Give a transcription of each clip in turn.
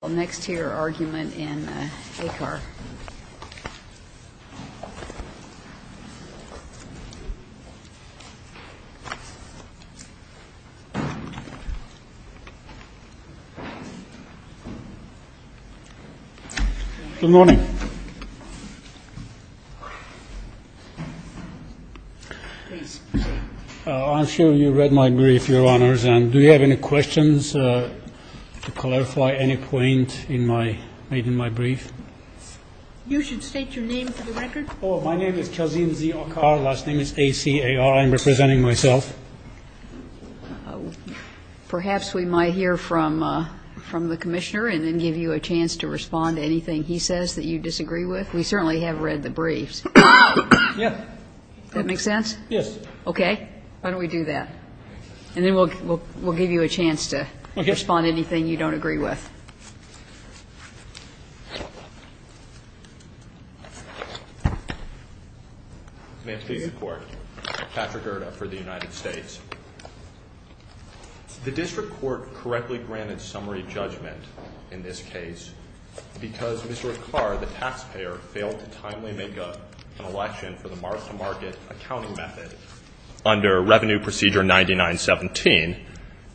Well, next to your argument in Acar. Good morning. I'm sure you read my brief, Your Honors, and do you have any questions to clarify any point made in my brief? You should state your name for the record. Oh, my name is Kazim Z. Acar. Last name is A-C-A-R. I'm representing myself. Perhaps we might hear from the Commissioner and then give you a chance to respond to anything he says that you disagree with. We certainly have read the briefs. Yeah. That make sense? Yes. Okay. Why don't we do that? And then we'll give you a chance to respond to anything you don't agree with. Ma'am, please. Patrick Erta for the United States. The district court correctly granted summary judgment in this case because Mr. Acar, the taxpayer, failed to timely make an election for the mark-to-market accounting method under Revenue Procedure 9917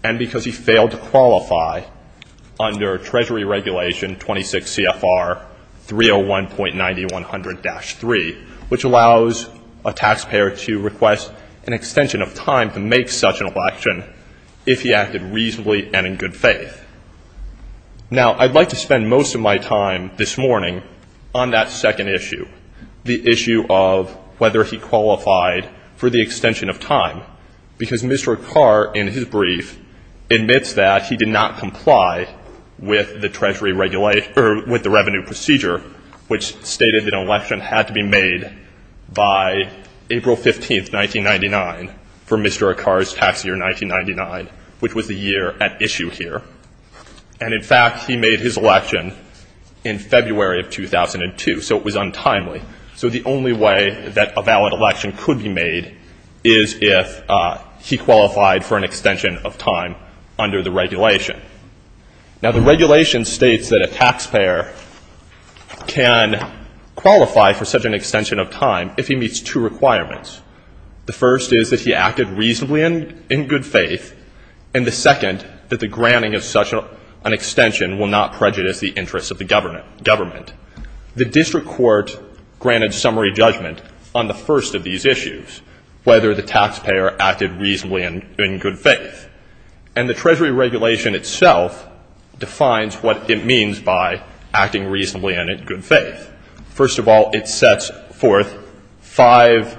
and because he failed to qualify under Treasury Regulation 26 CFR 301.9100-3, which allows a taxpayer to request an extension of time to make such an election if he acted reasonably and in good faith. Now, I'd like to spend most of my time this morning on that second issue, the issue of whether he qualified for the extension of time, because Mr. Acar in his brief admits that he did not comply with the Treasury Regulation or with the Revenue Procedure, which stated that an election had to be made by April 15th, 1999, for Mr. Acar's tax year 1999, which was the year at issue here. And, in fact, he made his election in February of 2002. So it was untimely. So the only way that a valid election could be made is if he qualified for an extension of time under the regulation. Now, the regulation states that a taxpayer can qualify for such an extension of time if he meets two requirements. The first is that he acted reasonably and in good faith, and the second that the granting of such an extension will not prejudice the interests of the government. The district court granted summary judgment on the first of these issues, whether the taxpayer acted reasonably and in good faith. And the Treasury Regulation itself defines what it means by acting reasonably and in good faith. First of all, it sets forth five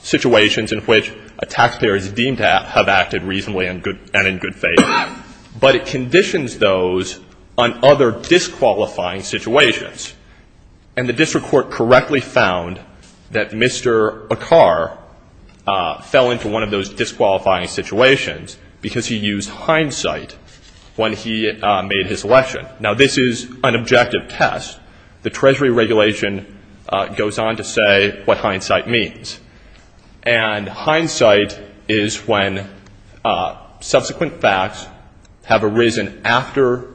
situations in which a taxpayer is deemed to have acted reasonably and in good faith, but it conditions those on other disqualifying situations. And the district court correctly found that Mr. Acar fell into one of those disqualifying situations because he used hindsight when he made his election. Now, this is an objective test. The Treasury Regulation goes on to say what hindsight means. And hindsight is when subsequent facts have arisen after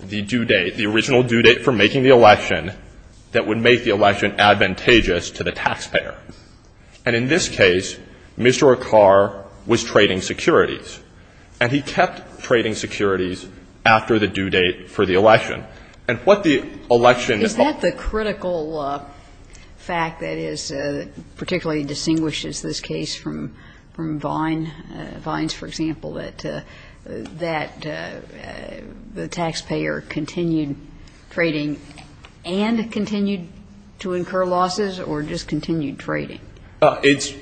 the due date, the original due date for making the election, that would make the election advantageous to the taxpayer. And in this case, Mr. Acar was trading securities, and he kept trading securities after the due date for the election. And what the election is all about is that the critical fact that is particularly distinguishes this case from Vines, for example, that the taxpayer continued trading and continued to incur losses or just continued trading. It's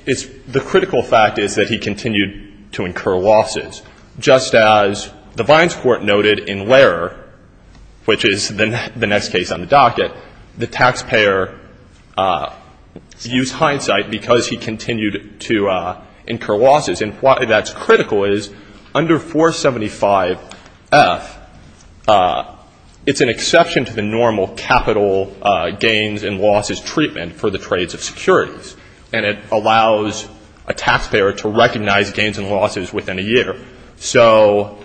the critical fact is that he continued to incur losses. Just as the Vines court noted in Lehrer, which is the next case on the docket, the taxpayer used hindsight because he continued to incur losses. And why that's critical is under 475F, it's an exception to the normal capital gains and losses treatment for the trades of securities. And it allows a taxpayer to recognize gains and losses within a year. So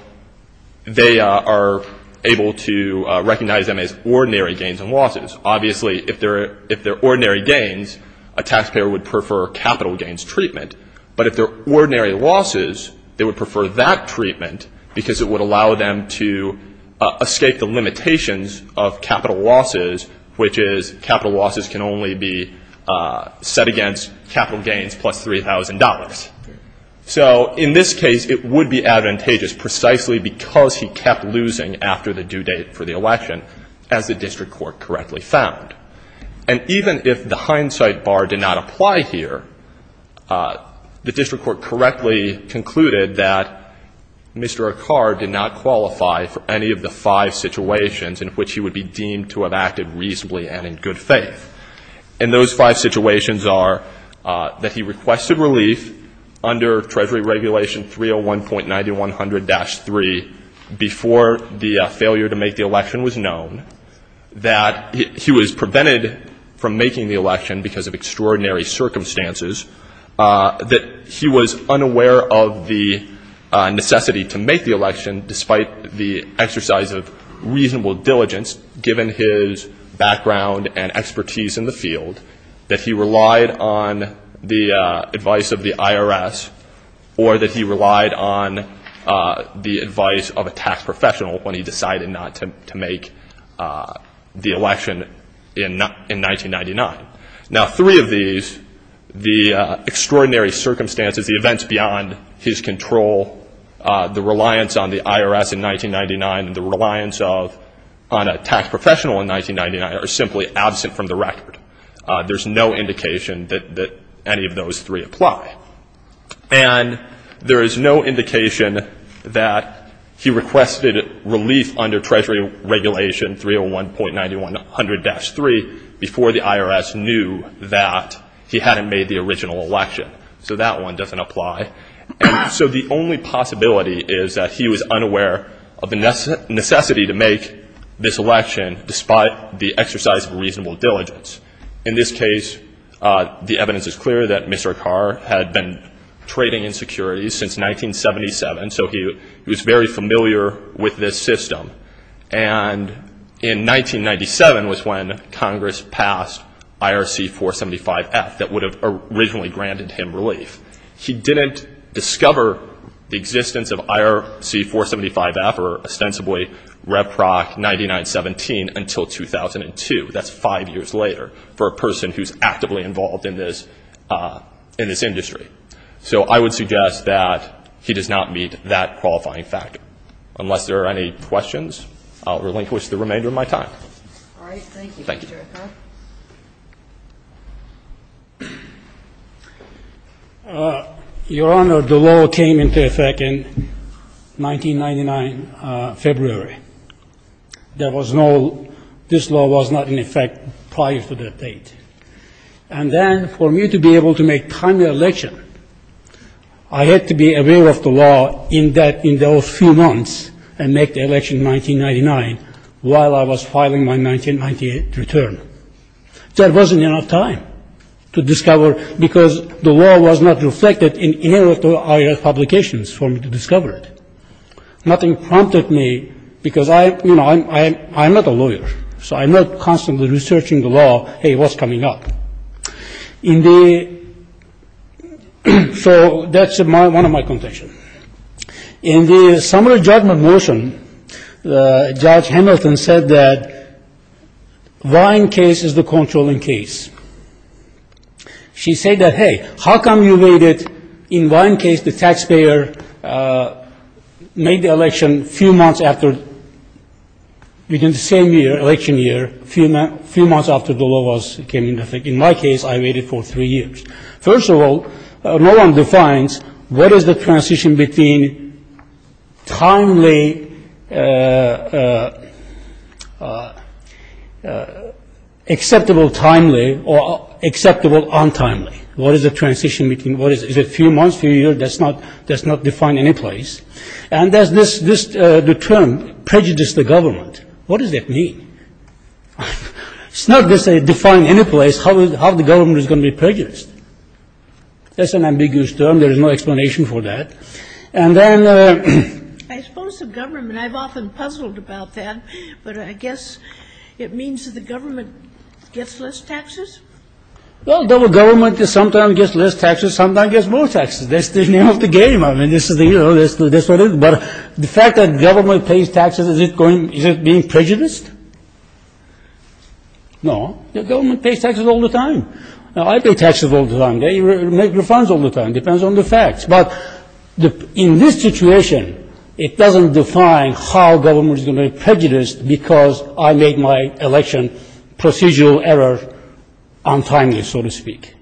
they are able to recognize them as ordinary gains and losses. Obviously, if they're ordinary gains, a taxpayer would prefer capital gains treatment. But if they're ordinary losses, they would prefer that treatment because it would allow them to escape the limitations of capital losses, which is capital losses can only be set against capital gains plus $3,000. So in this case, it would be advantageous precisely because he kept losing after the due date for the election, as the district court correctly found. And even if the hindsight bar did not apply here, the district court correctly concluded that Mr. Ackar did not qualify for any of the five situations in which he would be deemed to have acted reasonably and in good faith. And those five situations are that he requested relief under Treasury Regulation 301.9100-3 before the failure to make the election was known, that he was prevented from making the election because of extraordinary circumstances, that he was unaware of the necessity to make the election, despite the exercise of reasonable diligence, given his background and expertise in the field, that he relied on the advice of the IRS or that he relied on the advice of a tax professional when he decided not to make the election in 1999. Now, three of these, the extraordinary circumstances, the events beyond his control, the reliance on the IRS in 1999, and the reliance on a tax professional in 1999 are simply absent from the record. There's no indication that any of those three apply. And there is no indication that he requested relief under Treasury Regulation 301.9100-3 before the IRS knew that he hadn't made the original election. So that one doesn't apply. And so the only possibility is that he was unaware of the necessity to make this election, despite the exercise of reasonable diligence. In this case, the evidence is clear that Mr. Carr had been trading in securities since 1977, so he was very familiar with this system. And in 1997 was when Congress passed IRC-475F that would have originally granted him relief. He didn't discover the existence of IRC-475F, or ostensibly Reproc-9917, until 2002. That's five years later for a person who's actively involved in this industry. So I would suggest that he does not meet that qualifying factor. Unless there are any questions, I'll relinquish the remainder of my time. Your Honor, the law came into effect in 1999, February. There was no — this law was not in effect prior to that date. And then for me to be able to make timely election, I had to be aware of the law in those few months, and make the election in 1999 while I was filing my 1998 return. There wasn't enough time to discover, because the law was not reflected in any of the IRS publications for me to discover it. Nothing prompted me, because I'm not a lawyer, so I'm not constantly researching the law, hey, what's coming up. So that's one of my contention. In the summary judgment motion, Judge Hamilton said that vying case is the controlling case. She said that, hey, how come you made it, in vying case, the taxpayer made the election a few months after, within the same year, election year, a few months after the law came into effect. In my case, I waited for three years. First of all, no one defines what is the transition between timely, acceptable timely, or acceptable untimely. What is the transition between, is it a few months, a few years, that's not defined in any place. And there's this term, prejudice the government. What does that mean? It's not defined in any place how the government is going to be prejudiced. That's an ambiguous term. There is no explanation for that. And then the... I suppose the government, I've often puzzled about that, but I guess it means that the government gets less taxes? Well, the government sometimes gets less taxes, sometimes gets more taxes. That's the name of the game. I mean, this is the, you know, that's what it is. But the fact that government pays taxes, is it going, is it being prejudiced? No, the government pays taxes all the time. I pay taxes all the time. They make refunds all the time. It depends on the facts. But in this situation, it doesn't define how government is going to be prejudiced because I made my election procedural error untimely, so to speak.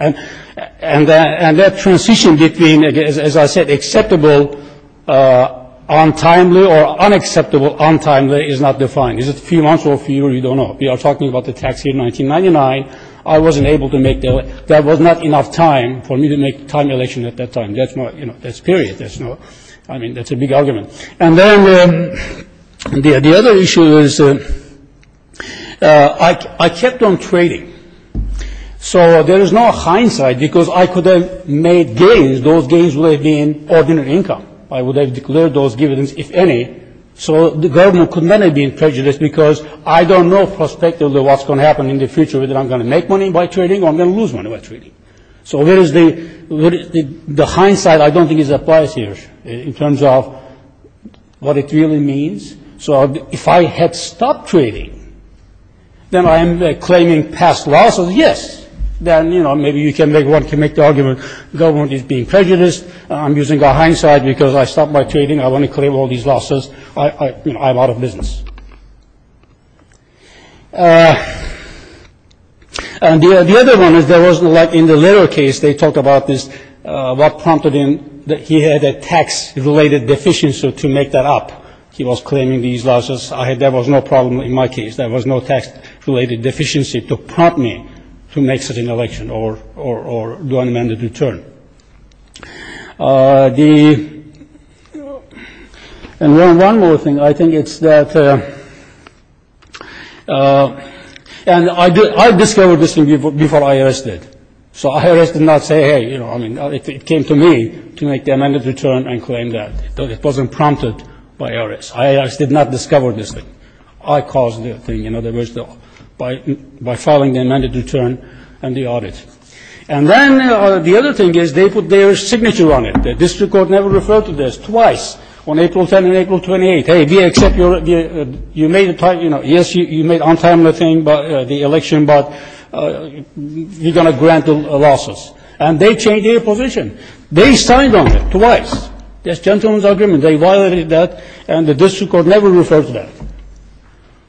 And that transition between, as I said, acceptable untimely or unacceptable untimely is not defined. Is it a few months or a few years? We don't know. We are talking about the tax year 1999. I wasn't able to make that. There was not enough time for me to make a timely election at that time. That's period. I mean, that's a big argument. And then the other issue is I kept on trading. So there is no hindsight because I could have made gains. Those gains would have been ordinary income. I would have declared those dividends, if any. So the government could not have been prejudiced because I don't know prospectively what's going to happen in the future, whether I'm going to make money by trading or I'm going to lose money by trading. So where is the hindsight? I don't think it applies here in terms of what it really means. So if I had stopped trading, then I am claiming past losses, yes. Then, you know, maybe one can make the argument the government is being prejudiced. I'm using hindsight because I stopped my trading. I want to claim all these losses. I'm out of business. And the other one is there was, in the later case, they talk about this, what prompted him that he had a tax-related deficiency to make that up. He was claiming these losses. There was no problem in my case. There was no tax-related deficiency to prompt me to make such an election or do an amended return. And one more thing. I think it's that I discovered this thing before IRS did. So IRS did not say, hey, you know, it came to me to make the amended return and claim that. It wasn't prompted by IRS. IRS did not discover this thing. I caused the thing, in other words, by filing the amended return and the audit. And then the other thing is they put their signature on it. The district court never referred to this twice on April 10th and April 28th. Hey, we accept your, you made a, you know, yes, you made untimely thing by the election, but you're going to grant the losses. And they changed their position. They signed on it twice. That's gentleman's agreement. They violated that, and the district court never referred to that.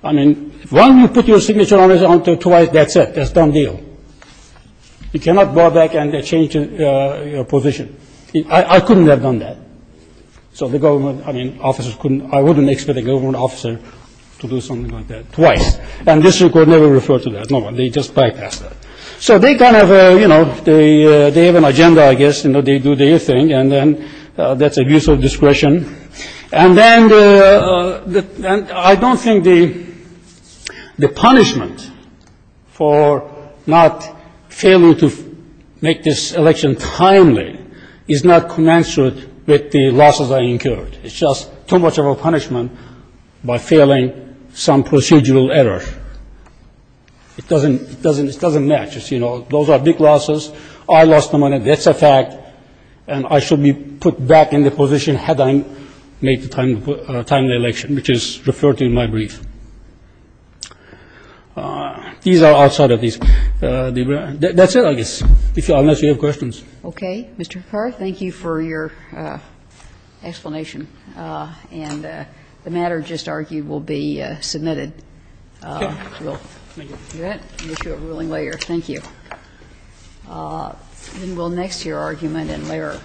I mean, why don't you put your signature on it twice? That's it. That's a done deal. You cannot go back and change your position. I couldn't have done that. So the government, I mean, officers couldn't. I wouldn't expect a government officer to do something like that twice. And the district court never referred to that. No one. They just bypassed that. So they kind of, you know, they have an agenda, I guess. You know, they do their thing, and then that's abuse of discretion. And then I don't think the punishment for not failing to make this election timely is not commensurate with the losses I incurred. It's just too much of a punishment by failing some procedural error. It doesn't match. You know, those are big losses. I lost the money. That's a fact. And I should be put back in the position had I made the timely election, which is referred to in my brief. These are outside of these. That's it, I guess, unless you have questions. Okay. Mr. Ficarra, thank you for your explanation. And the matter just argued will be submitted. Okay. Thank you. I'll issue a ruling later. Thank you. And we'll next to your argument and later.